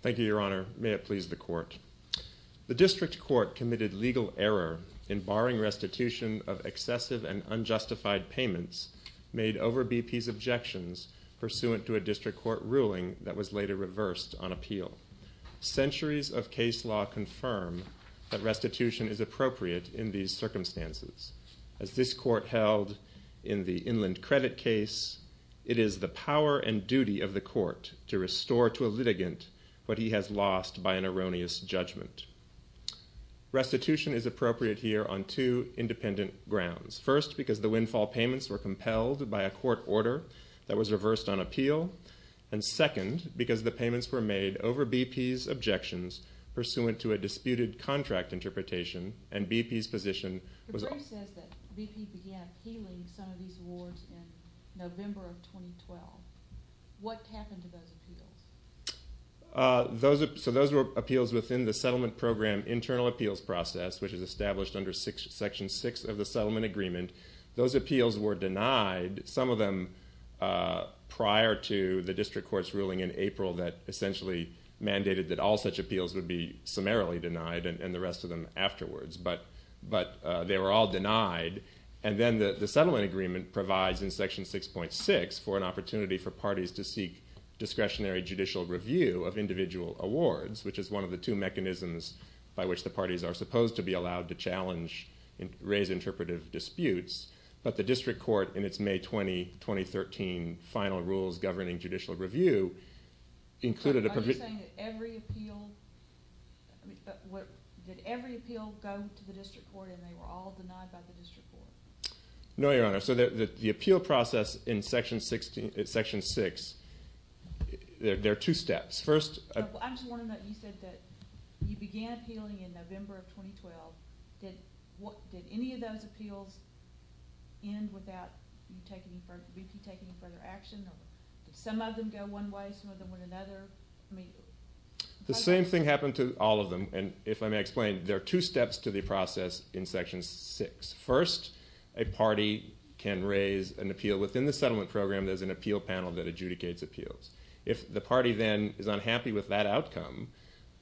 Thank you, Your Honor. May it please the Court. The District Court committed legal error in barring restitution of excessive and unjustified payments made over BP's objections pursuant to a District Court ruling that was later reversed on appeal. Centuries of case law confirm that restitution is appropriate in these circumstances. As this Court held in the Inland Credit case, it is the power and duty of the Court to restore to a litigant what he has lost by an erroneous judgment. Restitution is appropriate here on two independent grounds. First, because the windfall payments were compelled by a Court order that was reversed on appeal. And second, because the payments were made over BP's objections pursuant to a disputed contract interpretation and BP's position was The brief says that BP began appealing some of these awards in November of 2012. What happened to those appeals? Those were appeals within the settlement program internal appeals process, which is established under Section 6 of the settlement agreement. Those appeals were denied, some of them prior to the District Court's ruling in April that essentially mandated that all such appeals would be summarily denied and the rest of them afterwards. But they were all denied. And then the settlement agreement provides in Section 6.6 for an opportunity for parties to seek discretionary judicial review of individual awards, which is one of the two mechanisms by which the parties are supposed to be challenged and raise interpretive disputes. But the District Court in its May 20, 2013 final rules governing judicial review included a provision. Are you saying that every appeal, did every appeal go to the District Court and they were all denied by the District Court? No, Your Honor. So the appeal process in Section 6, there are two steps. First I just want to know, you said that you began appealing in November of 2012. Did any of those appeals end without BP taking further action? Did some of them go one way, some of them went another? The same thing happened to all of them. And if I may explain, there are two steps to the process in Section 6. First, a party can raise an appeal within the settlement program. There's an appeal panel that adjudicates with that outcome.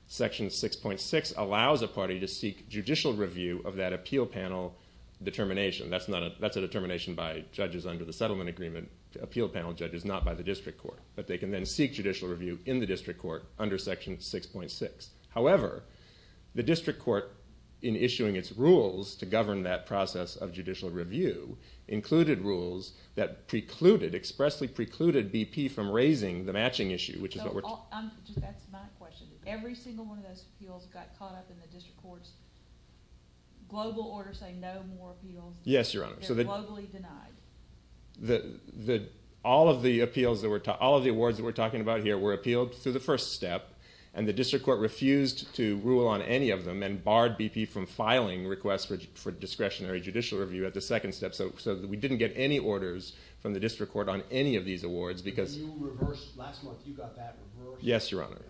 Section 6.6 allows a party to seek judicial review of that appeal panel determination. That's a determination by judges under the settlement agreement, appeal panel judges, not by the District Court. But they can then seek judicial review in the District Court under Section 6.6. However, the District Court in issuing its rules to govern that process of judicial review included rules that precluded, expressly That's my question. Every single one of those appeals got caught up in the District Court's global order saying no more appeals. They're globally denied. All of the awards that we're talking about here were appealed through the first step, and the District Court refused to rule on any of them and barred BP from filing requests for discretionary judicial review at the second step. So we didn't get any orders from the District Court on any of these awards. You reversed, last month you got that reversed. Yes, Your Honor.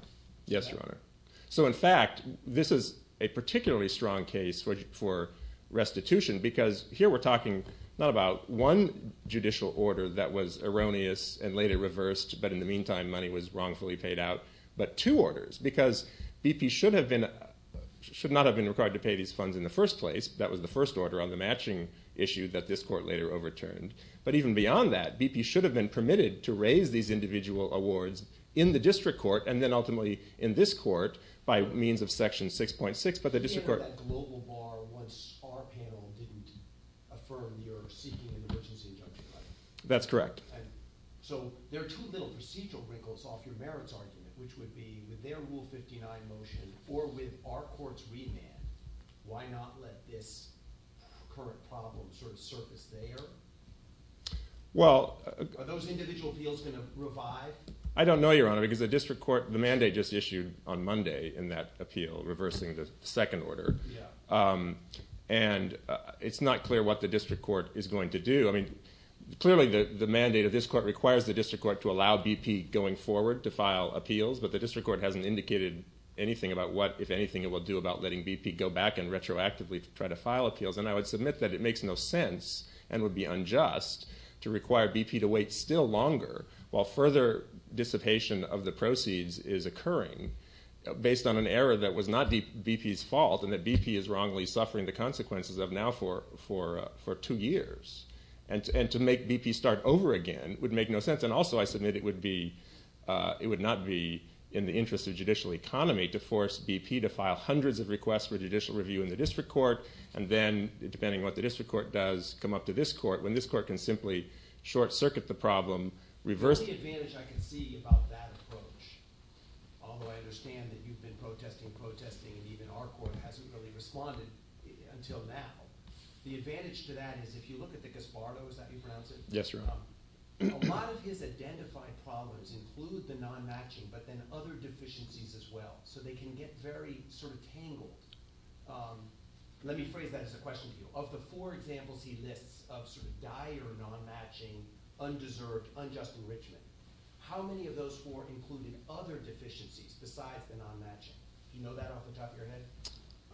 So in fact, this is a particularly strong case for restitution because here we're talking not about one judicial order that was erroneous and later reversed, but in the meantime money was wrongfully paid out, but two orders. Because BP should not have been required to pay these funds in the first place. That was the first order on the matching issue that this court later overturned. But even beyond that, BP should have been permitted to raise these individual awards in the District Court and then ultimately in this court by means of Section 6.6, but the District Court You can't have that global bar once our panel didn't affirm you're seeking an emergency injunction, right? That's correct. So there are two little procedural wrinkles off your merits argument, which would be with their Rule 59 motion or with our court's remand, why not let this current problem sort of surface there? Are those individual appeals going to revive? I don't know, Your Honor, because the District Court, the mandate just issued on Monday in that appeal reversing the second order, and it's not clear what the District Court is going to do. Clearly the mandate of this court requires the District Court to allow BP going forward to file appeals, but the District Court hasn't indicated anything about what, if anything, it will do about letting BP go back and retroactively try to file appeals. And I would submit that it makes no sense and would be unjust to require BP to wait still longer while further dissipation of the proceeds is occurring based on an error that was not BP's fault and that BP is wrongly suffering the consequences of now for two years. And to make BP start over again would make no sense. And also I submit it would not be in the interest of judicial economy to force BP to file hundreds of requests for judicial review in the District Court, and then, depending on what the District Court does, come up to this court, when this court can simply short-circuit the problem, reverse it. The only advantage I can see about that approach, although I understand that you've been protesting, protesting, and even our court hasn't really responded until now. The advantage to that is if you look at the Gaspardo – is that how you pronounce it? Yes, Your Honor. A lot of his identified problems include the non-matching but then other deficiencies as well, so they can get very sort of tangled. Let me phrase that as a question to you. Of the four examples he lists of sort of dire non-matching, undeserved, unjust enrichment, how many of those four included other deficiencies besides the non-matching? Do you know that off the top of your head?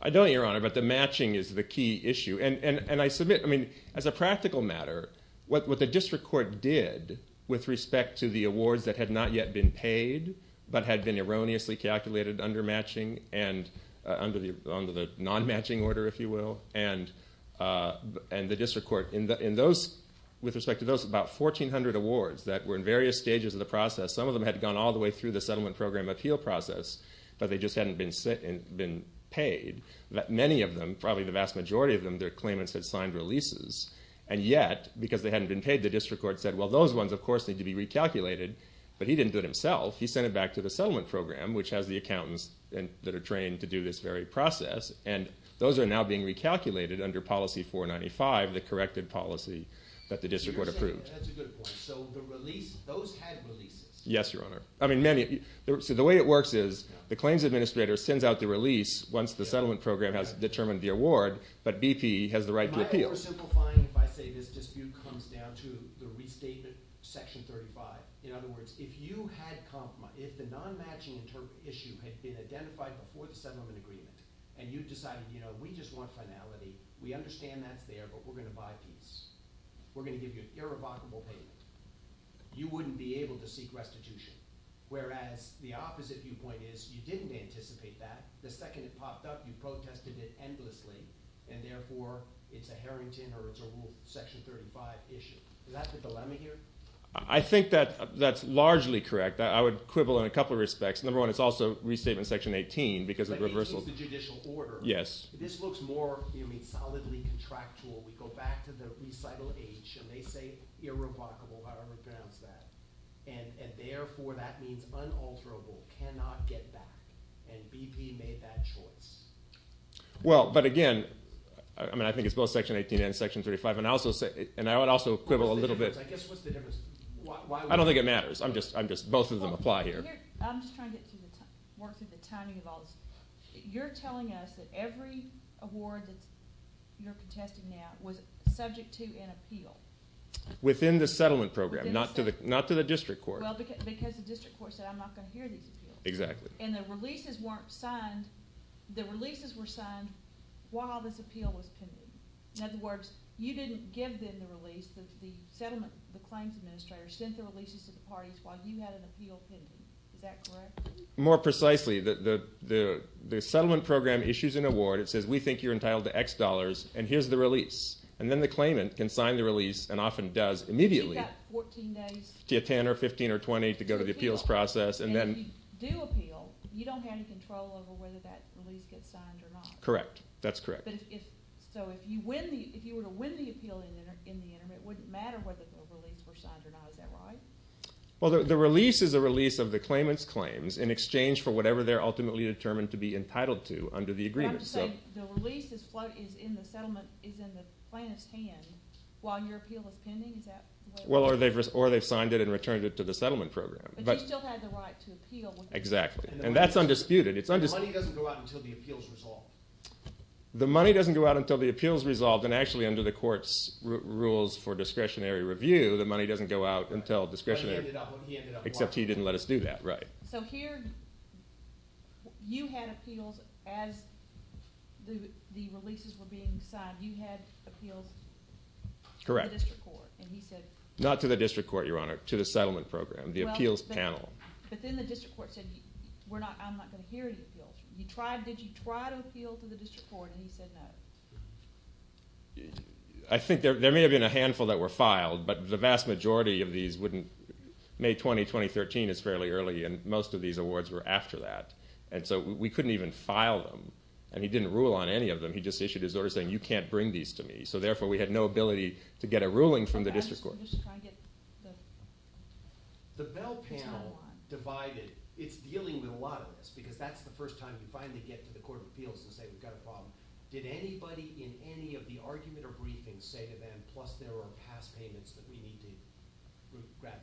I don't, Your Honor, but the matching is the key issue. And I submit, I mean, as a practical matter, what the District Court did with respect to the awards that had not yet been paid but had been erroneously calculated under matching and under the non-matching order, if you will, and the District Court, with respect to those about 1,400 awards that were in various stages of the process, some of them had gone all the way through the settlement program appeal process, but they just hadn't been paid. Many of them, probably the vast majority of them, their claimants had signed releases. And yet, because they hadn't been paid, the District Court said, well, those ones, of course, need to be recalculated. But he didn't do it himself. He sent it back to the settlement program, which has the accountants that are trained to do this very process, and those are now being recalculated under Policy 495, the corrected policy that the District Court approved. That's a good point. So the release, those had releases? Yes, Your Honor. So the way it works is the claims administrator sends out the release once the settlement program has determined the award, but BP has the right to appeal. Am I oversimplifying if I say this dispute comes down to the restatement, Section 35? In other words, if you had compromise, if the non-matching issue had been identified before the settlement agreement and you decided, you know, we just want finality, we understand that's there, but we're going to buy a piece. We're going to give you an irrevocable payment. You wouldn't be able to seek restitution, whereas the opposite viewpoint is you didn't anticipate that. The second it popped up, you protested it endlessly, and therefore it's a Harrington or it's a Rule Section 35 issue. Is that the dilemma here? I think that that's largely correct. I would quibble in a couple of respects. Number one, it's also Restatement Section 18 because of the reversal. But 18 is the judicial order. Yes. This looks more, you know, solidly contractual. We go back to the recital H, and they say irrevocable, however you pronounce that, and therefore that means unalterable, cannot get back, and BP made that choice. Well, but again, I mean, I think it's both Section 18 and Section 35. And I would also quibble a little bit. I guess what's the difference? I don't think it matters. I'm just both of them apply here. I'm just trying to work through the timing of all this. You're telling us that every award that you're contesting now was subject to an appeal. Within the settlement program, not to the district court. Well, because the district court said, I'm not going to hear these appeals. Exactly. And the releases weren't signed. The releases were signed while this appeal was pending. In other words, you didn't give them the release. The claims administrator sent the releases to the parties while you had an appeal pending. Is that correct? More precisely, the settlement program issues an award. It says, we think you're entitled to X dollars, and here's the release. And then the claimant can sign the release and often does immediately. So you've got 14 days? You've got 10 or 15 or 20 to go to the appeals process. And if you do appeal, you don't have any control over whether that release gets signed or not. Correct. That's correct. So if you were to win the appeal in the interim, it wouldn't matter whether the release were signed or not. Is that right? Well, the release is a release of the claimant's claims in exchange for whatever they're ultimately determined to be entitled to under the agreement. You have to say the release is in the plaintiff's hand while your appeal is pending? Well, or they've signed it and returned it to the settlement program. But you still have the right to appeal. Exactly. And that's undisputed. The money doesn't go out until the appeal is resolved. The money doesn't go out until the appeal is resolved. And actually, under the court's rules for discretionary review, the money doesn't go out until discretionary. Except he didn't let us do that. Right. So here you had appeals as the releases were being signed. You had appeals to the district court. Correct. Not to the district court, Your Honor. To the settlement program, the appeals panel. But then the district court said, I'm not going to hear any appeals. Did you try to appeal to the district court and he said no? I think there may have been a handful that were filed, but the vast majority of these wouldn't. May 20, 2013 is fairly early, and most of these awards were after that. And so we couldn't even file them. And he didn't rule on any of them. He just issued his order saying, you can't bring these to me. So therefore, we had no ability to get a ruling from the district court. The Bell panel divided. It's dealing with a lot of this because that's the first time you finally get to the court of appeals and say we've got a problem. Did anybody in any of the argument or briefings say to them, plus there are past payments that we need to grab back?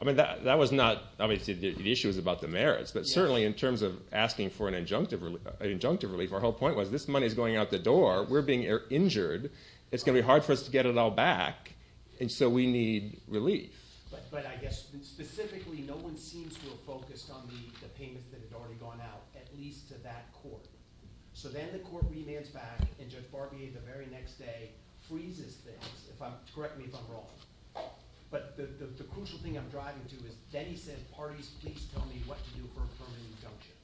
I mean, that was not – the issue was about the merits. But certainly in terms of asking for an injunctive relief, our whole point was this money is going out the door. We're being injured. It's going to be hard for us to get it all back, and so we need relief. But I guess specifically no one seems to have focused on the payments that had already gone out, at least to that court. So then the court remands back, and Judge Barbier the very next day freezes things. Correct me if I'm wrong. But the crucial thing I'm driving to is Denny said parties, please tell me what to do for a permanent injunction.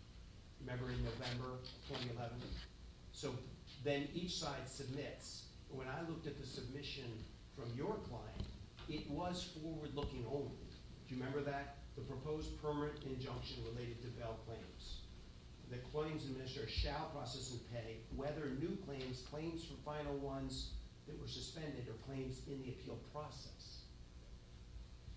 Remember in November 2011? So then each side submits. When I looked at the submission from your client, it was forward-looking only. Do you remember that? The proposed permanent injunction related to bail claims. The claims administrator shall process and pay whether new claims, claims from final ones that were suspended or claims in the appeal process.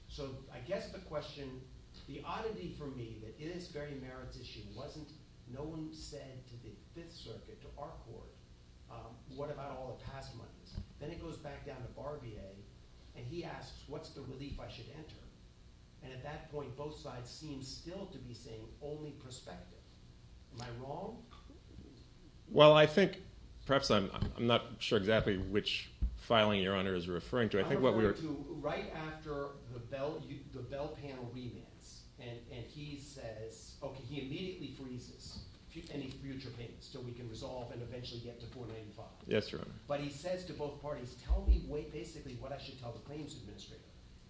So I guess the question – the oddity for me that in this very merits issue wasn't no one said to the Fifth Circuit, to our court, what about all the past monies? Then it goes back down to Barbier, and he asks, what's the relief I should enter? And at that point, both sides seem still to be saying only prospective. Am I wrong? Well, I think – perhaps I'm not sure exactly which filing Your Honor is referring to. I'm referring to right after the bail panel remands, and he says – okay, he immediately freezes any future payments so we can resolve and eventually get to $495,000. Yes, Your Honor. But he says to both parties, tell me basically what I should tell the claims administrator.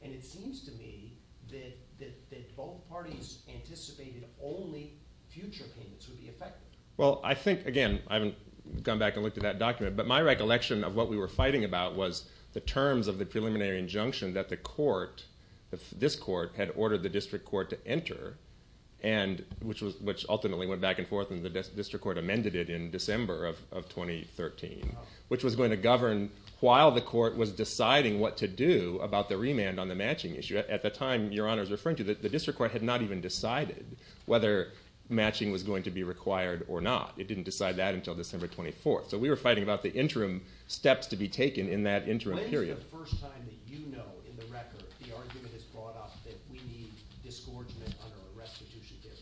And it seems to me that both parties anticipated only future payments would be affected. Well, I think – again, I haven't gone back and looked at that document. But my recollection of what we were fighting about was the terms of the preliminary injunction that the court – this court had ordered the district court to enter, which ultimately went back and forth, and the district court amended it in December of 2013, which was going to govern while the court was deciding what to do about the remand on the matching issue. At the time Your Honor is referring to, the district court had not even decided whether matching was going to be required or not. It didn't decide that until December 24th. So we were fighting about the interim steps to be taken in that interim period. When is the first time that you know in the record the argument is brought up that we need disgorgement under a restitution period?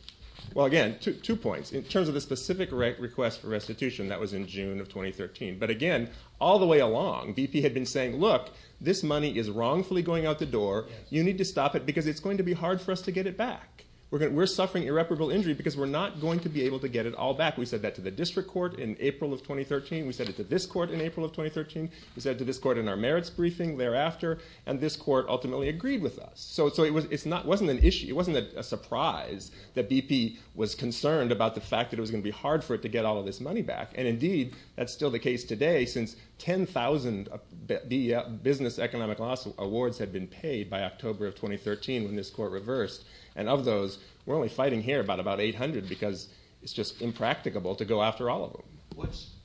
Well, again, two points. In terms of the specific request for restitution, that was in June of 2013. But again, all the way along BP had been saying, look, this money is wrongfully going out the door. You need to stop it because it's going to be hard for us to get it back. We're suffering irreparable injury because we're not going to be able to get it all back. We said that to the district court in April of 2013. We said it to this court in April of 2013. We said it to this court in our merits briefing thereafter. And this court ultimately agreed with us. So it wasn't an issue, it wasn't a surprise that BP was concerned about the fact that it was going to be hard for it to get all of this money back. And indeed, that's still the case today since 10,000 business economic loss awards had been paid by October of 2013 when this court reversed. And of those, we're only fighting here about about 800 because it's just impracticable to go after all of them.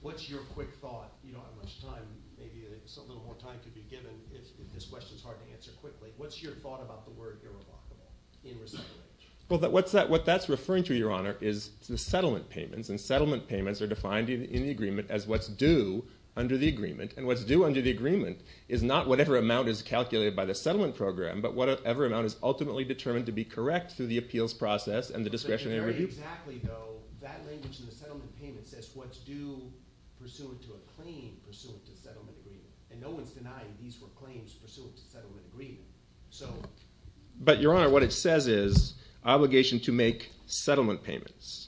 What's your quick thought? You don't have much time, maybe a little more time could be given if this question is hard to answer quickly. What's your thought about the word irrevocable in recidivism? Well, what that's referring to, Your Honor, is the settlement payments. And settlement payments are defined in the agreement as what's due under the agreement. And what's due under the agreement is not whatever amount is calculated by the settlement program but whatever amount is ultimately determined to be correct through the appeals process and the discretionary review. But very exactly, though, that language in the settlement payment says what's due pursuant to a claim pursuant to settlement agreement. And no one's denying these were claims pursuant to settlement agreement. But, Your Honor, what it says is obligation to make settlement payments.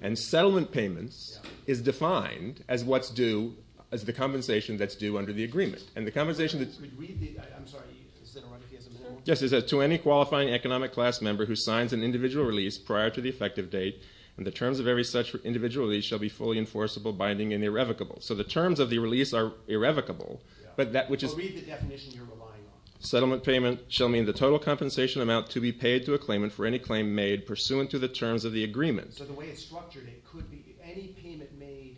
And settlement payments is defined as what's due as the compensation that's due under the agreement. And the compensation that's... I'm sorry, is that all right if he has a moment? Yes, it says to any qualifying economic class member who signs an individual release prior to the effective date and the terms of every such individual release shall be fully enforceable, binding, and irrevocable. So the terms of the release are irrevocable, but that which is... Well, read the definition you're relying on. Settlement payment shall mean the total compensation amount to be paid to a claimant for any claim made pursuant to the terms of the agreement. So the way it's structured, it could be any payment made...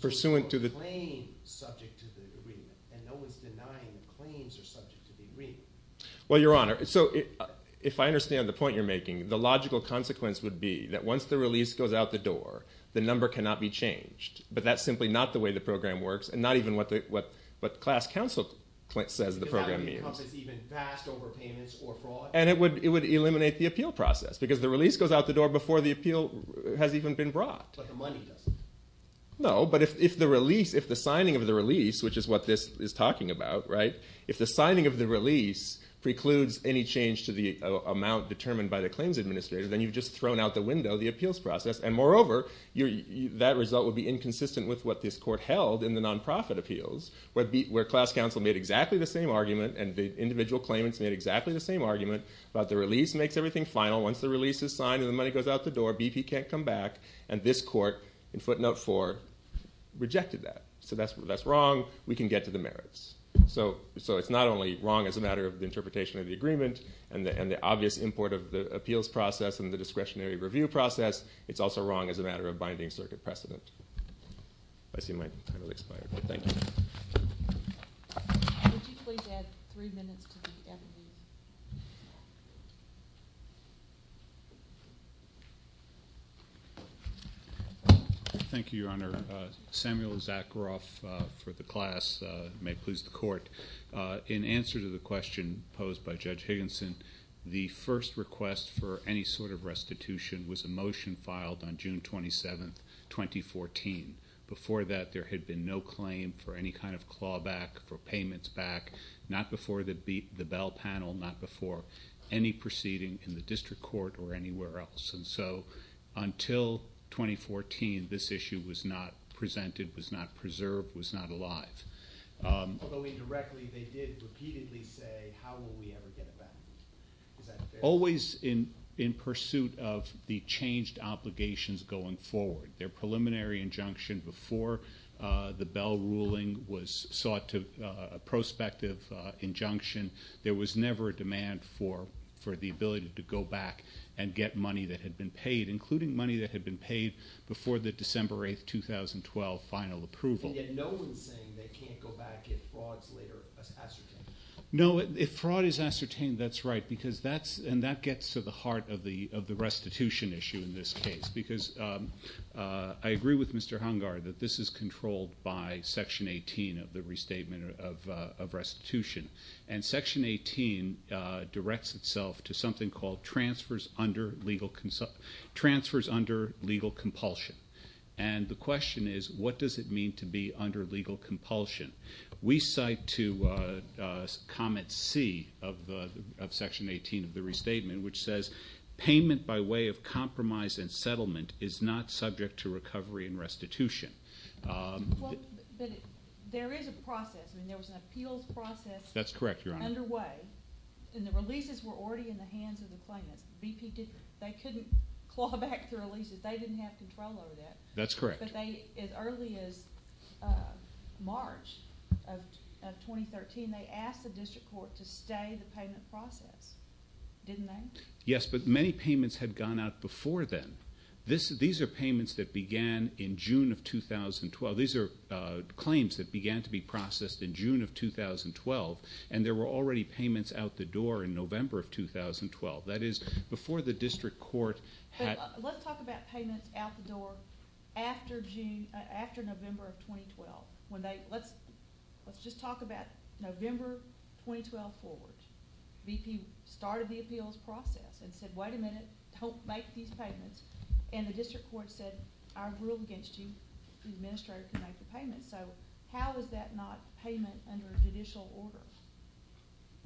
Pursuant to the... ...claim subject to the agreement. And no one's denying the claims are subject to the agreement. Well, Your Honor, so if I understand the point you're making, the logical consequence would be that once the release goes out the door, the number cannot be changed. But that's simply not the way the program works, and not even what class counsel says the program means. Does that encompass even vast overpayments or fraud? And it would eliminate the appeal process because the release goes out the door before the appeal has even been brought. But the money doesn't. No, but if the release, if the signing of the release, which is what this is talking about, right, if the signing of the release precludes any change to the amount determined by the claims administrator, then you've just thrown out the window the appeals process. And, moreover, that result would be inconsistent with what this court held in the nonprofit appeals, where class counsel made exactly the same argument and the individual claimants made exactly the same argument about the release makes everything final. Once the release is signed and the money goes out the door, BP can't come back. And this court, in footnote 4, rejected that. So that's wrong. We can get to the merits. So it's not only wrong as a matter of the interpretation of the agreement and the obvious import of the appeals process and the discretionary review process. It's also wrong as a matter of binding circuit precedent. I see my time has expired. Thank you. Would you please add three minutes to the evidence? Thank you, Your Honor. Samuel Zakharoff for the class. May it please the Court. In answer to the question posed by Judge Higginson, the first request for any sort of restitution was a motion filed on June 27, 2014. Before that, there had been no claim for any kind of clawback or payments back, not before the Bell panel, not before any proceeding in the district court or anywhere else. And so until 2014, this issue was not presented, was not preserved, was not alive. Although indirectly, they did repeatedly say, how will we ever get it back? Is that fair? Always in pursuit of the changed obligations going forward. Their preliminary injunction before the Bell ruling was sought to prospective injunction. There was never a demand for the ability to go back and get money that had been paid, including money that had been paid before the December 8, 2012 final approval. And yet no one is saying they can't go back if fraud is later ascertained. No, if fraud is ascertained, that's right. And that gets to the heart of the restitution issue in this case. Because I agree with Mr. Hungar that this is controlled by Section 18 of the Restatement of Restitution. And Section 18 directs itself to something called transfers under legal compulsion. And the question is, what does it mean to be under legal compulsion? We cite to Comment C of Section 18 of the Restatement, which says payment by way of compromise and settlement is not subject to recovery and restitution. Well, there is a process. I mean, there was an appeals process. That's correct, Your Honor. Underway. And the releases were already in the hands of the claimants. They couldn't claw back the releases. They didn't have control over that. That's correct. But they, as early as March of 2013, they asked the district court to stay the payment process, didn't they? Yes, but many payments had gone out before then. These are payments that began in June of 2012. These are claims that began to be processed in June of 2012, and there were already payments out the door in November of 2012. That is, before the district court had Let's talk about payments out the door after November of 2012. Let's just talk about November 2012 forward. BP started the appeals process and said, Wait a minute, don't make these payments. And the district court said, I ruled against you, the administrator, to make the payments. So how is that not payment under judicial order?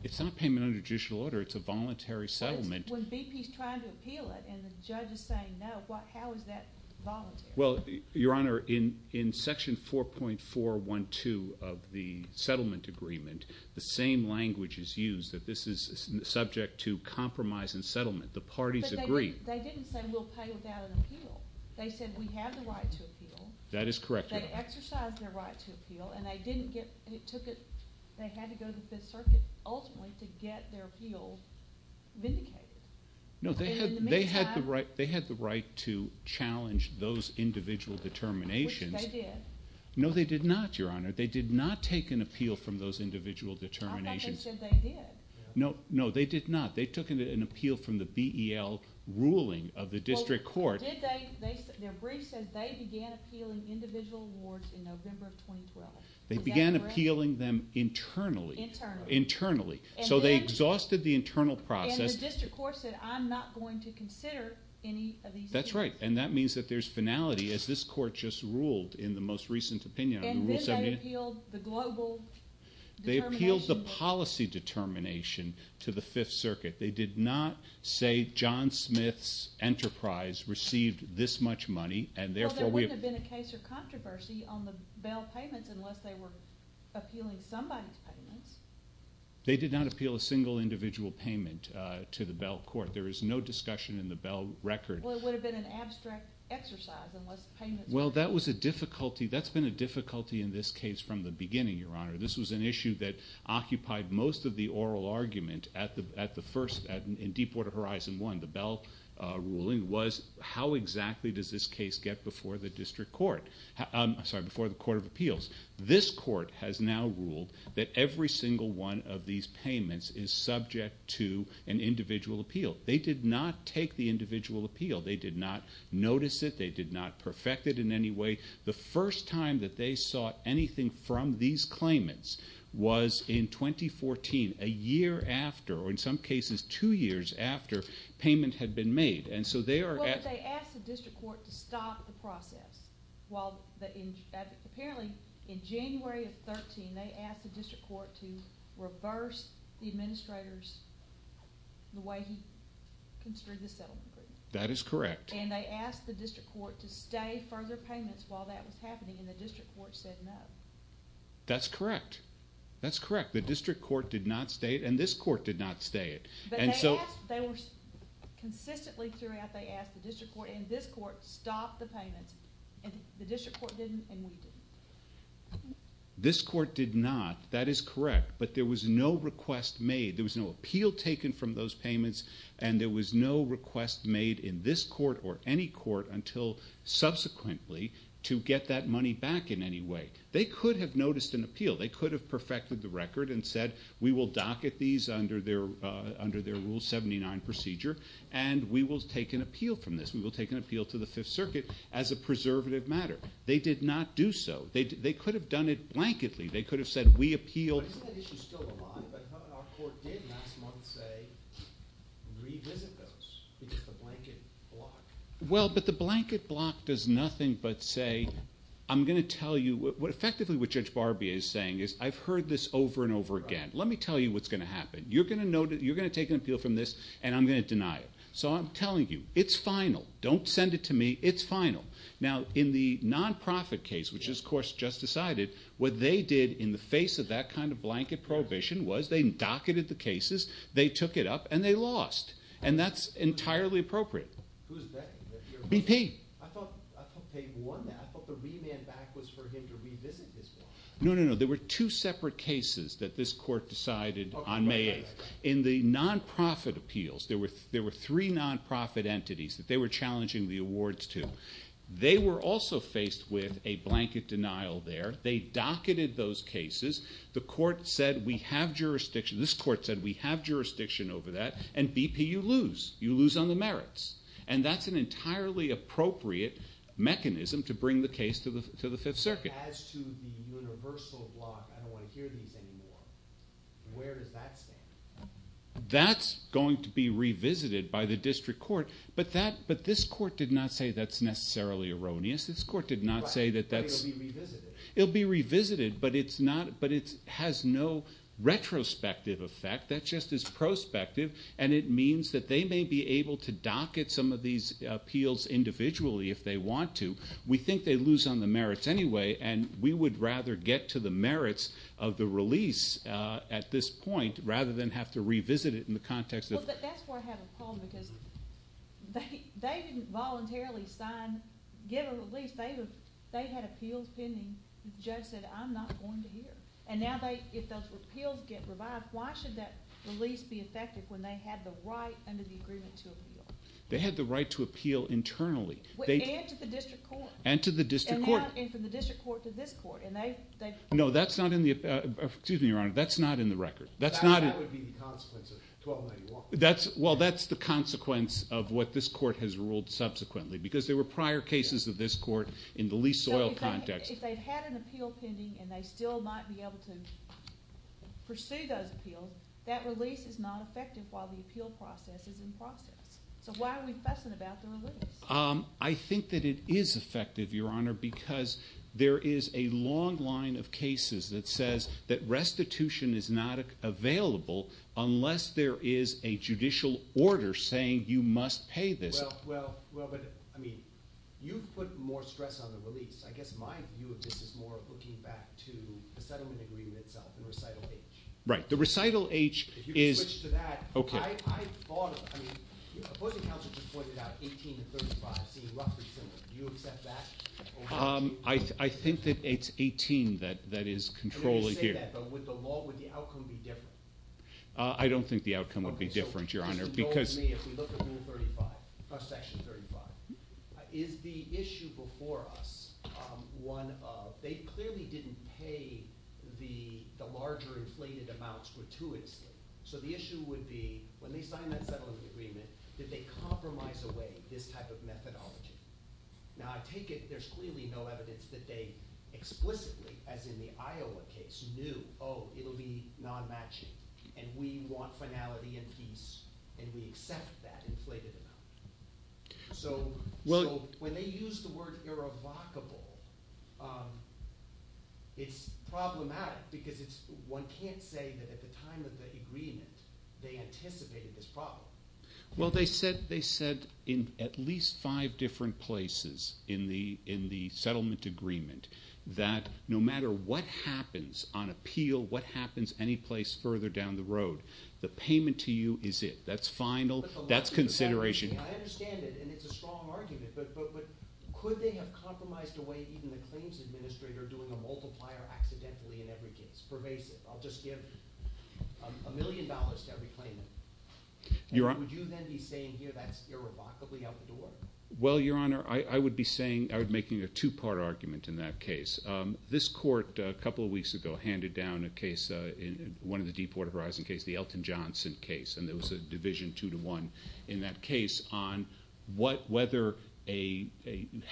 It's not payment under judicial order. It's a voluntary settlement. When BP's trying to appeal it and the judge is saying no, how is that voluntary? Well, Your Honor, in Section 4.412 of the settlement agreement, the same language is used, that this is subject to compromise and settlement. The parties agree. But they didn't say we'll pay without an appeal. They said we have the right to appeal. That is correct, Your Honor. They exercised their right to appeal, and they didn't get, they had to go to the Fifth Circuit ultimately to get their appeal vindicated. No, they had the right to challenge those individual determinations. Which they did. No, they did not, Your Honor. They did not take an appeal from those individual determinations. I thought they said they did. No, they did not. They took an appeal from the BEL ruling of the district court. Their brief says they began appealing individual awards in November of 2012. Is that correct? They began appealing them internally. Internally. Internally. So they exhausted the internal process. And the district court said I'm not going to consider any of these appeals. That's right, and that means that there's finality, as this court just ruled in the most recent opinion on Rule 78. And then they appealed the global determination. They appealed the policy determination to the Fifth Circuit. They did not say John Smith's Enterprise received this much money, and therefore we have Well, it would have been a case of controversy on the BEL payments unless they were appealing somebody's payments. They did not appeal a single individual payment to the BEL court. There is no discussion in the BEL record. Well, it would have been an abstract exercise unless payments were made. Well, that was a difficulty. That's been a difficulty in this case from the beginning, Your Honor. This was an issue that occupied most of the oral argument at the first, in Deepwater Horizon 1, the BEL ruling, was how exactly does this case get before the district court? I'm sorry, before the Court of Appeals. This court has now ruled that every single one of these payments is subject to an individual appeal. They did not take the individual appeal. They did not notice it. They did not perfect it in any way. The first time that they sought anything from these claimants was in 2014, a year after, or in some cases two years after, payment had been made. Well, but they asked the district court to stop the process. Apparently, in January of 2013, they asked the district court to reverse the administrator's, the way he construed the settlement agreement. That is correct. And they asked the district court to stay further payments while that was happening, and the district court said no. That's correct. That's correct. The district court did not stay it, and this court did not stay it. Consistently throughout, they asked the district court, and this court stopped the payments, and the district court didn't, and we didn't. This court did not. That is correct. But there was no request made. There was no appeal taken from those payments, and there was no request made in this court or any court until subsequently to get that money back in any way. They could have noticed an appeal. They could have perfected the record and said we will docket these under their Rule 79 procedure, and we will take an appeal from this. We will take an appeal to the Fifth Circuit as a preservative matter. They did not do so. They could have done it blanketly. They could have said we appeal. Isn't that issue still alive? But our court did last month say revisit those. It's the blanket block. Well, but the blanket block does nothing but say, I'm going to tell you what effectively what Judge Barbier is saying is, I've heard this over and over again. Let me tell you what's going to happen. You're going to take an appeal from this, and I'm going to deny it. So I'm telling you, it's final. Don't send it to me. It's final. Now, in the nonprofit case, which this court just decided, what they did in the face of that kind of blanket prohibition was they docketed the cases, they took it up, and they lost, and that's entirely appropriate. Who's they? BP. I thought they won that. I thought the remand back was for him to revisit his one. No, no, no. There were two separate cases that this court decided on May 8th. In the nonprofit appeals, there were three nonprofit entities that they were challenging the awards to. They were also faced with a blanket denial there. They docketed those cases. The court said we have jurisdiction. This court said we have jurisdiction over that, and, BP, you lose. You lose on the merits. And that's an entirely appropriate mechanism to bring the case to the Fifth Circuit. As to the universal block, I don't want to hear these anymore. Where does that stand? That's going to be revisited by the district court, but this court did not say that's necessarily erroneous. This court did not say that that's – But it will be revisited. It will be revisited, but it has no retrospective effect. That just is prospective, and it means that they may be able to docket some of these appeals individually if they want to. We think they lose on the merits anyway, and we would rather get to the merits of the release at this point rather than have to revisit it in the context of – Well, but that's where I have a problem, because they didn't voluntarily sign – give a release. They had appeals pending. The judge said, I'm not going to hear. And now if those appeals get revived, why should that release be effective when they had the right under the agreement to appeal? They had the right to appeal internally. And to the district court. And to the district court. And from the district court to this court. No, that's not in the – excuse me, Your Honor. That's not in the record. That would be the consequence of 1291. Well, that's the consequence of what this court has ruled subsequently, because there were prior cases of this court in the lease oil context. So if they had an appeal pending and they still might be able to pursue those appeals, that release is not effective while the appeal process is in process. So why are we fussing about the release? I think that it is effective, Your Honor, because there is a long line of cases that says that restitution is not available unless there is a judicial order saying you must pay this. Well, but, I mean, you put more stress on the release. I guess my view of this is more looking back to the settlement agreement itself and recital H. Right. The recital H is – If you could switch to that. Okay. I thought of it. I mean, opposing counsel just pointed out 18 to 35 seem roughly similar. Do you accept that? I think that it's 18 that is controlling here. I'm going to say that, but with the law, would the outcome be different? I don't think the outcome would be different, Your Honor, because – Okay. So the question for me, if we look at Rule 35, Section 35, is the issue before us one of – they clearly didn't pay the larger inflated amounts gratuitously. So the issue would be when they signed that settlement agreement, did they compromise away this type of methodology? Now, I take it there's clearly no evidence that they explicitly, as in the Iowa case, knew, oh, it will be non-matching, and we want finality and peace, and we accept that inflated amount. So when they use the word irrevocable, it's problematic because it's – I'm saying that at the time of the agreement, they anticipated this problem. Well, they said in at least five different places in the settlement agreement that no matter what happens on appeal, what happens anyplace further down the road, the payment to you is it. That's final. That's consideration. I understand it, and it's a strong argument, but could they have compromised away even the claims administrator doing a multiplier accidentally in every case, pervasive? I'll just give a million dollars to every claimant. Would you then be saying here that's irrevocably out the door? Well, Your Honor, I would be making a two-part argument in that case. This court a couple of weeks ago handed down a case, one of the Deepwater Horizon cases, the Elton Johnson case, and there was a division two to one in that case on whether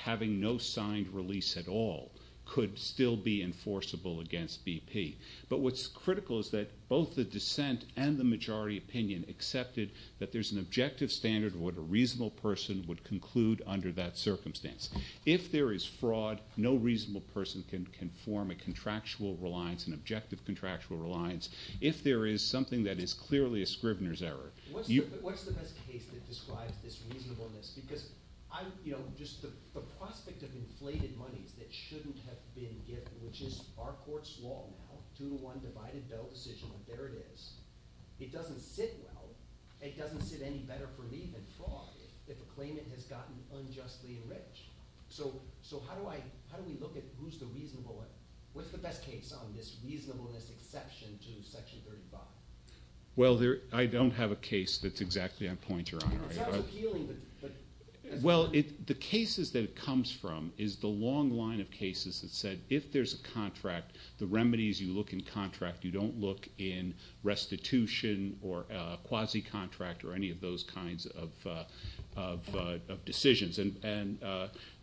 having no signed release at all could still be enforceable against BP. But what's critical is that both the dissent and the majority opinion accepted that there's an objective standard of what a reasonable person would conclude under that circumstance. If there is fraud, no reasonable person can form a contractual reliance, an objective contractual reliance. If there is something that is clearly a scrivener's error. What's the best case that describes this reasonableness? Because just the prospect of inflated monies that shouldn't have been given, which is our court's law now, two to one divided bill decision, but there it is. It doesn't sit well. It doesn't sit any better for me than fraud if a claimant has gotten unjustly enriched. So how do we look at who's the reasonable one? What's the best case on this reasonableness exception to Section 35? Well, I don't have a case that's exactly on point, Your Honor. It sounds appealing. Well, the cases that it comes from is the long line of cases that said if there's a contract, the remedies you look in contract, you don't look in restitution or quasi-contract or any of those kinds of decisions. And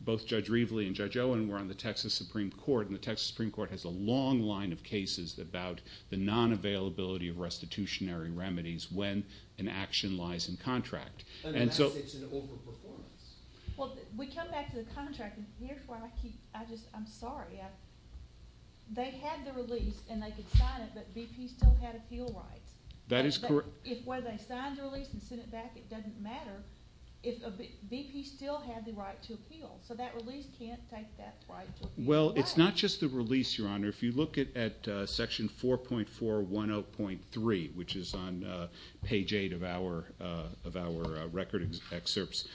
both Judge Reveley and Judge Owen were on the Texas Supreme Court, and the Texas Supreme Court has a long line of cases about the non-availability of restitutionary remedies when an action lies in contract. And that's an overperformance. Well, we come back to the contract, and here's what I keep. I'm sorry. They had the release, and they could sign it, but BP still had appeal rights. That is correct. If whether they signed the release and sent it back, it doesn't matter. BP still had the right to appeal, so that release can't take that right away. Well, it's not just the release, Your Honor. If you look at Section 4.410.3, which is on page 8 of our record excerpts,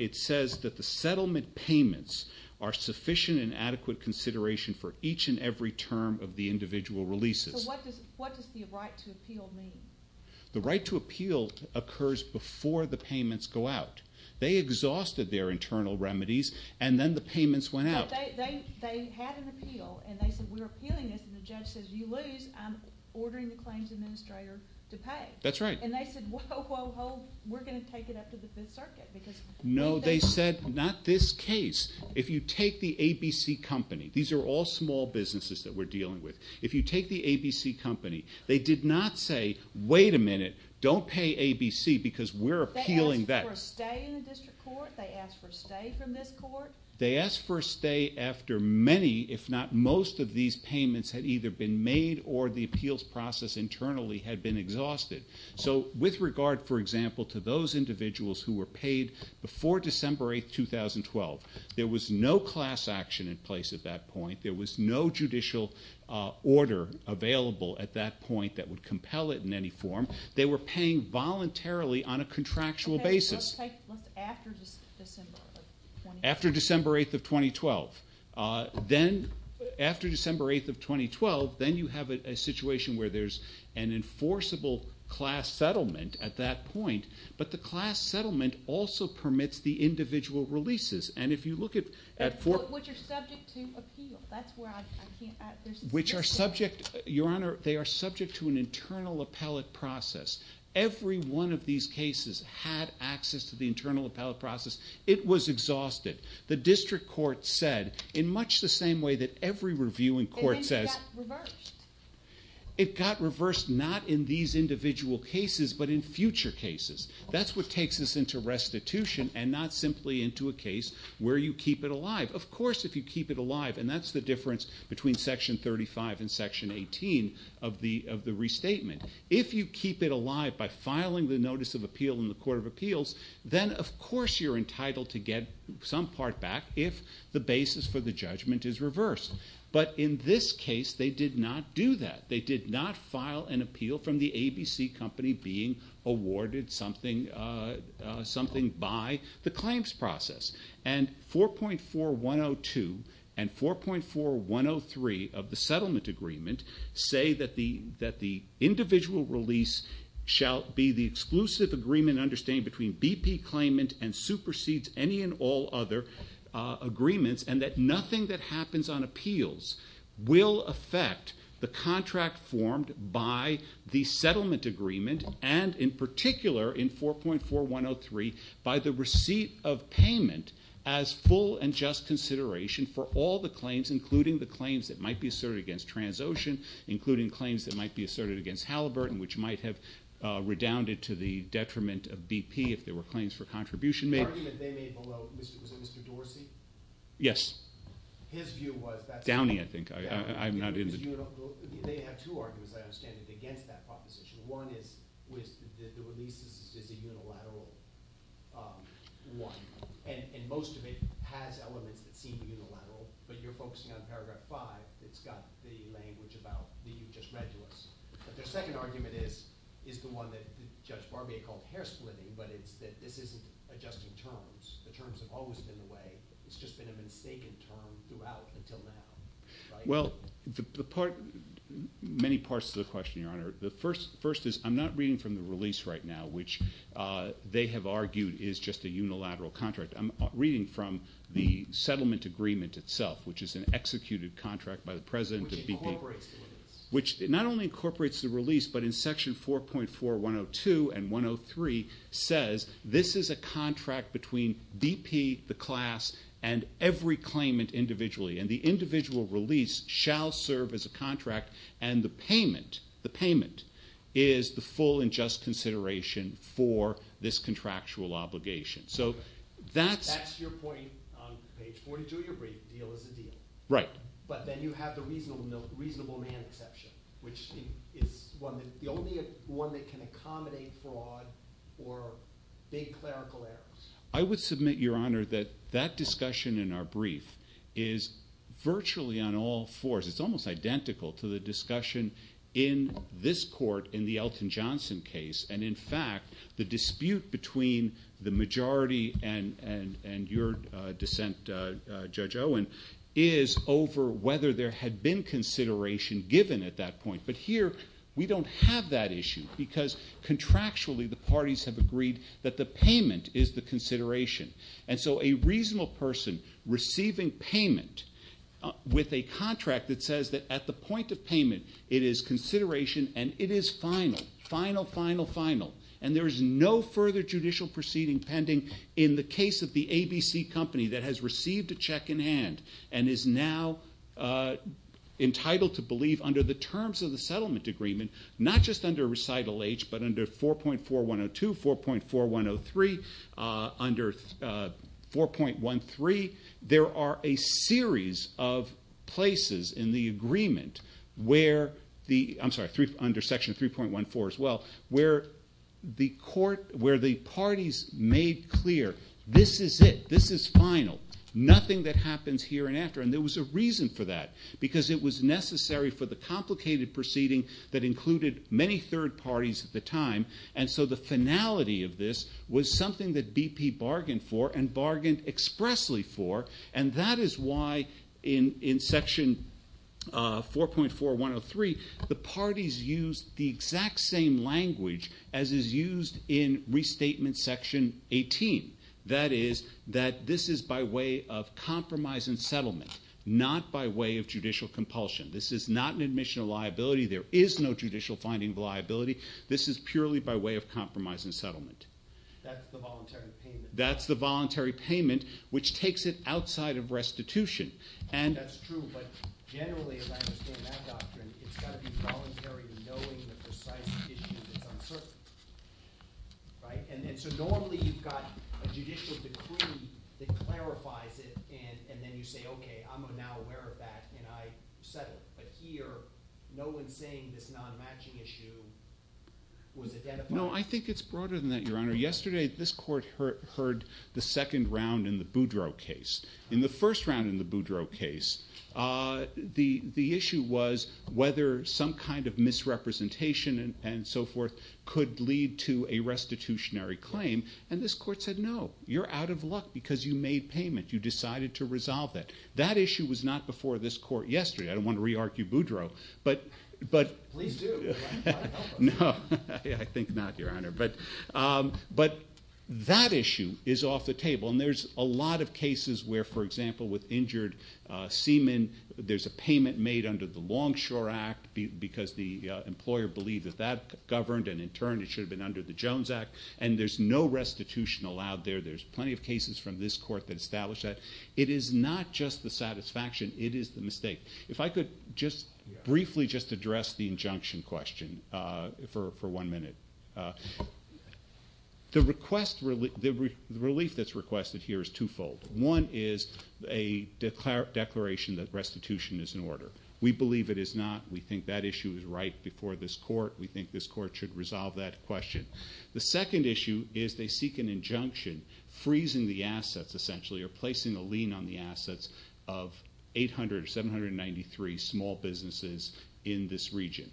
it says that the settlement payments are sufficient and adequate consideration for each and every term of the individual releases. So what does the right to appeal mean? The right to appeal occurs before the payments go out. They exhausted their internal remedies, and then the payments went out. They had an appeal, and they said, We're appealing this. And the judge says, You lose. I'm ordering the claims administrator to pay. That's right. And they said, Whoa, whoa, whoa. We're going to take it up to the Fifth Circuit. No, they said, Not this case. If you take the ABC Company. These are all small businesses that we're dealing with. If you take the ABC Company, they did not say, Wait a minute. Don't pay ABC because we're appealing that. They asked for a stay in the district court. They asked for a stay from this court. They asked for a stay after many, if not most, of these payments had either been made or the appeals process internally had been exhausted. So with regard, for example, to those individuals who were paid before December 8, 2012, there was no class action in place at that point. There was no judicial order available at that point that would compel it in any form. They were paying voluntarily on a contractual basis. After December 8, 2012. Then after December 8, 2012, then you have a situation where there's an enforceable class settlement at that point. But the class settlement also permits the individual releases. And if you look at... Which are subject to appeal. That's why I can't... Which are subject, Your Honor, they are subject to an internal appellate process. Every one of these cases had access to the internal appellate process. It was exhausted. The district court said, in much the same way that every review in court says... It got reversed. It got reversed, not in these individual cases, but in future cases. That's what takes us into restitution and not simply into a case where you keep it alive. Of course, if you keep it alive, and that's the difference between Section 35 and Section 18 of the restatement. If you keep it alive by filing the notice of appeal in the Court of Appeals, then of course you're entitled to get some part back if the basis for the judgment is reversed. But in this case, they did not do that. They did not file an appeal from the ABC company being awarded something... something by the claims process. And 4.4102 and 4.4103 of the settlement agreement say that the individual release shall be the exclusive agreement in understanding between BP claimant and supersedes any and all other agreements, and that nothing that happens on appeals will affect the contract formed by the settlement agreement, and in particular, in 4.4103, by the receipt of payment as full and just consideration for all the claims, including the claims that might be asserted against Transocean, including claims that might be asserted against Halliburton, which might have redounded to the detriment of BP if there were claims for contribution made. The argument they made below, was it Mr. Dorsey? Yes. His view was... Downey, I think. I'm not in the... They have two arguments, I understand, against that proposition. One is the release is a unilateral one, and most of it has elements that seem unilateral, but you're focusing on paragraph 5. It's got the language about the... You just read to us. But their second argument is the one that Judge Barbier called hair-splitting, but it's that this isn't adjusting terms. The terms have always been the way. It's just been a mistaken term throughout until now. Well, the part... Many parts to the question, Your Honor. The first is, I'm not reading from the release right now, which they have argued is just a unilateral contract. I'm reading from the settlement agreement itself, which is an executed contract by the president of BP... Which incorporates the release. Which not only incorporates the release, but in Section 4.4.102 and 103, says this is a contract between DP, the class, and every claimant individually, and the individual release shall serve as a contract, and the payment, the payment, is the full and just consideration for this contractual obligation. So that's... That's your point on page 42 of your brief, deal is a deal. Right. But then you have the reasonable man exception, which is the only one that can accommodate fraud or big clerical errors. I would submit, Your Honor, that that discussion in our brief is virtually on all fours. It's almost identical to the discussion in this court in the Elton Johnson case, and, in fact, the dispute between the majority and your dissent, Judge Owen, is over whether there had been consideration given at that point. But here we don't have that issue, because contractually the parties have agreed that the payment is the consideration. And so a reasonable person receiving payment with a contract that says that at the point of payment it is consideration and it is final, final, final, final, and there is no further judicial proceeding pending in the case of the ABC Company that has received a check in hand and is now entitled to believe under the terms of the settlement agreement, not just under recital H, but under 4.4102, 4.4103, under 4.13, there are a series of places in the agreement under Section 3.14 as well, where the parties made clear, this is it, this is final, nothing that happens here and after, and there was a reason for that, because it was necessary for the complicated proceeding that included many third parties at the time, and so the finality of this was something that BP bargained for and bargained expressly for, and that is why in Section 4.4103 the parties used the exact same language as is used in Restatement Section 18, that is, that this is by way of compromise and settlement, not by way of judicial compulsion, this is not an admission of liability, there is no judicial finding of liability, this is purely by way of compromise and settlement. That's the voluntary payment, which takes it outside of restitution. No, I think it's broader than that, Your Honor. Yesterday, this Court heard the second round in the Boudreau case. In the first round in the Boudreau case, the issue was whether some kind of misrepresentation and so forth could lead to a restitutionary claim, and this Court said, no, you're out of luck because you made payment, you decided to resolve that. That issue was not before this Court yesterday. I don't want to re-argue Boudreau, but... Please do. No, I think not, Your Honor. But that issue is off the table, and there's a lot of cases where, for example, with injured seamen, there's a payment made under the Longshore Act because the employer believed that that governed, and in turn, it should have been under the Jones Act, and there's no restitution allowed there. There's plenty of cases from this Court that establish that. It is not just the satisfaction, it is the mistake. If I could just briefly just address the injunction question for one minute. The relief that's requested here is twofold. One is a declaration that restitution is in order. We believe it is not. We think that issue is right before this Court. We think this Court should resolve that question. The second issue is they seek an injunction, freezing the assets, essentially, or placing a lien on the assets of 800 or 793 small businesses in this region.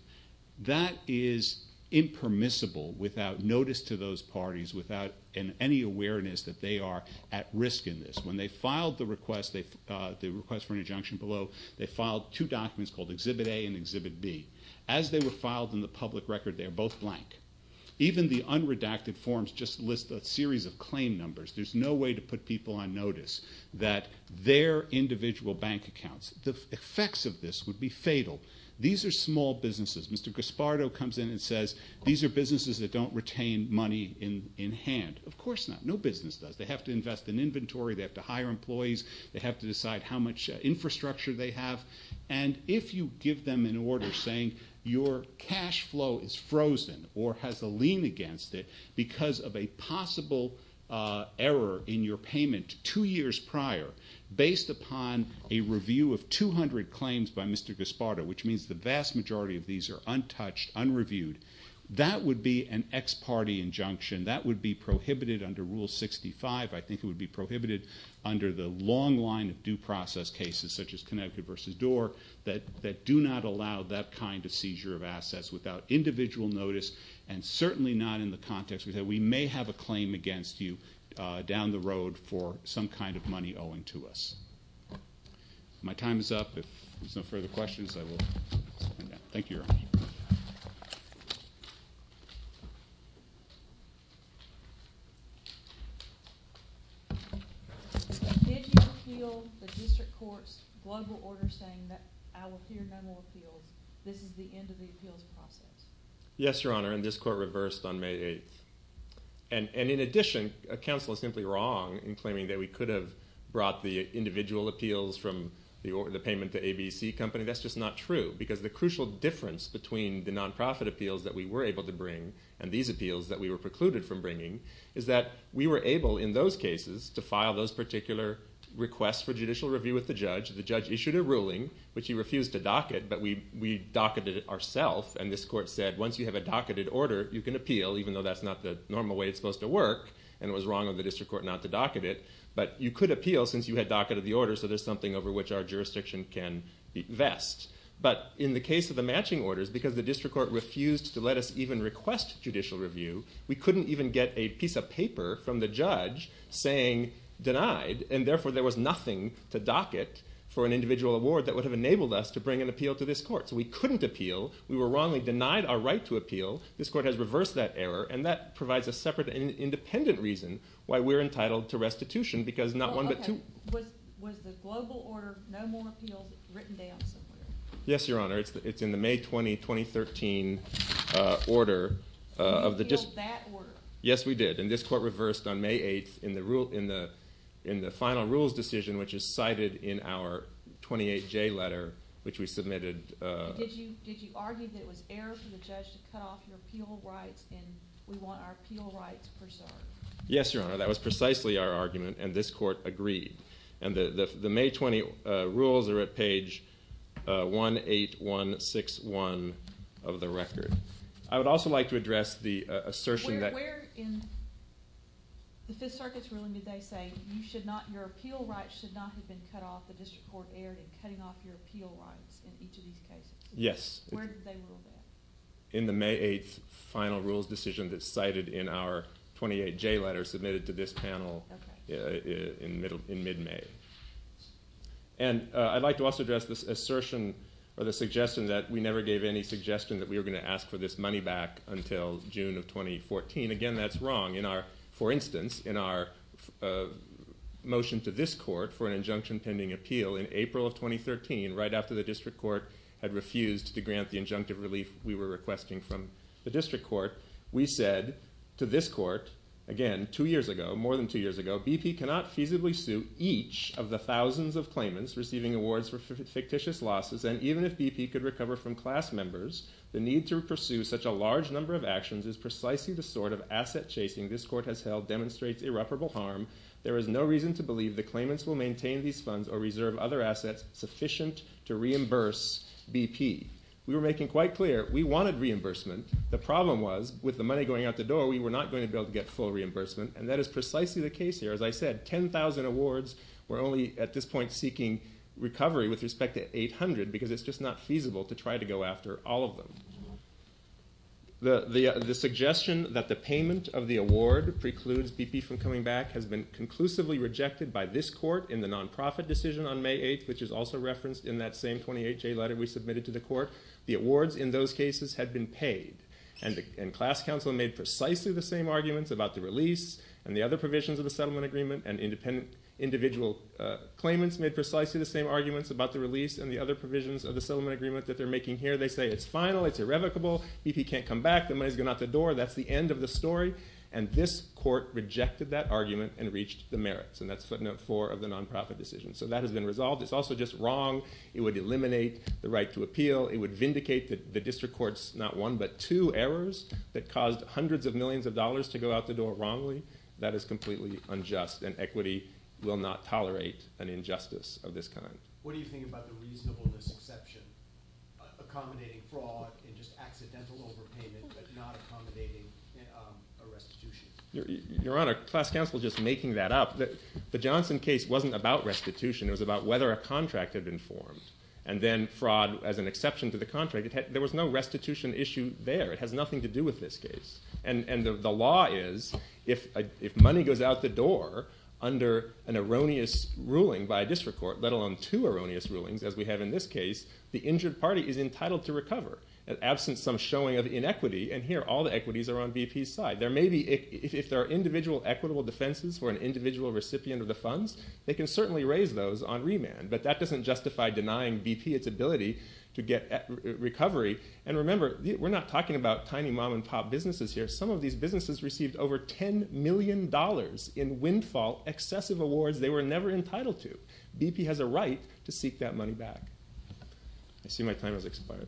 That is impermissible without notice to those parties, without any awareness that they are at risk in this. When they filed the request for an injunction below, they filed two documents called Exhibit A and Exhibit B. As they were filed in the public record, they are both blank. Even the unredacted forms just list a series of claim numbers. There's no way to put people on notice that their individual bank accounts... The effects of this would be fatal. These are small businesses. Mr. Gaspardo comes in and says, these are businesses that don't retain money in hand. Of course not. No business does. They have to invest in inventory, they have to hire employees, they have to decide how much infrastructure they have. And if you give them an order saying your cash flow is frozen or has a lien against it because of a possible error in your payment two years prior based upon a review of 200 claims by Mr. Gaspardo, which means the vast majority of these are untouched, unreviewed, that would be an ex parte injunction. That would be prohibited under Rule 65. I think it would be prohibited under the long line of due process cases, such as Connecticut v. Dorr, that do not allow that kind of seizure of assets without individual notice and certainly not in the context... We may have a claim against you down the road for some kind of money owing to us. My time is up. If there's no further questions, I will... Thank you, Your Honor. Did you appeal the district court's global order saying that I will hear no more appeals, this is the end of the appeals process? Yes, Your Honor, and this court reversed on May 8th. And in addition, counsel is simply wrong in claiming that we could have brought the individual appeals from the payment to ABC Company. That's just not true, because the crucial difference between the non-profit appeals that we were able to bring and these appeals that we were precluded from bringing is that we were able in those cases to file those particular requests for judicial review with the judge. The judge issued a ruling, which he refused to docket, but we docketed it ourself. And this court said, once you have a docketed order, you can appeal, even though that's not the normal way it's supposed to work. And it was wrong of the district court not to docket it. But you could appeal, since you had docketed the order, so there's something over which our jurisdiction can vest. But in the case of the matching orders, because the district court refused to let us even request judicial review, we couldn't even get a piece of paper from the judge saying denied, and therefore there was nothing to docket for an individual award that would have enabled us to bring an appeal to this court. So we couldn't appeal, we were wrongly denied our right to appeal, this court has reversed that error, and that provides a separate and independent reason why we're entitled to restitution, because not one but two. Was the global order, no more appeals, written down somewhere? Yes, Your Honor, it's in the May 20, 2013 order. You appealed that order? Yes, we did, and this court reversed on May 8th in the final rules decision, which is cited in our 28J letter, which we submitted. Did you argue that it was error for the judge to cut off your appeal rights, and we want our appeal rights preserved? Yes, Your Honor, that was precisely our argument, and this court agreed. And the May 20 rules are at page 18161 of the record. I would also like to address the assertion that... Where in the Fifth Circuit's ruling did they say your appeal rights should not have been cut off, the district court erred in cutting off your appeal rights in each of these cases? Yes. Where did they rule that? In the May 8th final rules decision that's cited in our 28J letter submitted to this panel in mid-May. And I'd like to also address this assertion or the suggestion that we never gave any suggestion that we were going to ask for this money back until June of 2014. Again, that's wrong. For instance, in our motion to this court for an injunction pending appeal in April of 2013, right after the district court had refused to grant the injunctive relief we were requesting from the district court, we said to this court, again, two years ago, more than two years ago, BP cannot feasibly sue each of the thousands of claimants receiving awards for fictitious losses, and even if BP could recover from class members, the need to pursue such a large number of actions is precisely the sort of asset chasing this court has held demonstrates irreparable harm. There is no reason to believe the claimants will maintain these funds or reserve other assets sufficient to reimburse BP. We were making quite clear we wanted reimbursement. The problem was with the money going out the door, we were not going to be able to get full reimbursement, and that is precisely the case here. As I said, 10,000 awards were only at this point seeking recovery with respect to 800 because it's just not feasible to try to go after all of them. The suggestion that the payment of the award precludes BP from coming back has been conclusively rejected by this court in the nonprofit decision on May 8th, which is also referenced in that same 28-J letter we submitted to the court. The awards in those cases had been paid, and class counsel made precisely the same arguments about the release and the other provisions of the settlement agreement, and individual claimants made precisely the same arguments about the release and the other provisions of the settlement agreement that they're making here. They say it's final, it's irrevocable, BP can't come back, the money's going out the door, that's the end of the story, and this court rejected that argument and reached the merits, and that's footnote four of the nonprofit decision. So that has been resolved. It's also just wrong. It would eliminate the right to appeal. It would vindicate the district court's not one but two errors that caused hundreds of millions of dollars to go out the door wrongly. That is completely unjust, and equity will not tolerate an injustice of this kind. What do you think about the reasonableness exception accommodating fraud and just accidental overpayment but not accommodating a restitution? Your Honor, class counsel's just making that up. The Johnson case wasn't about restitution. It was about whether a contract had been formed, and then fraud as an exception to the contract. There was no restitution issue there. It has nothing to do with this case, and the law is if money goes out the door under an erroneous ruling by a district court, let alone two erroneous rulings as we have in this case, the injured party is entitled to recover. Absent some showing of inequity, and here all the equities are on BP's side. If there are individual equitable defenses for an individual recipient of the funds, they can certainly raise those on remand, but that doesn't justify denying BP its ability to get recovery. And remember, we're not talking about tiny mom-and-pop businesses here. Some of these businesses received over $10 million in windfall, excessive awards they were never entitled to. BP has a right to seek that money back. I see my time has expired.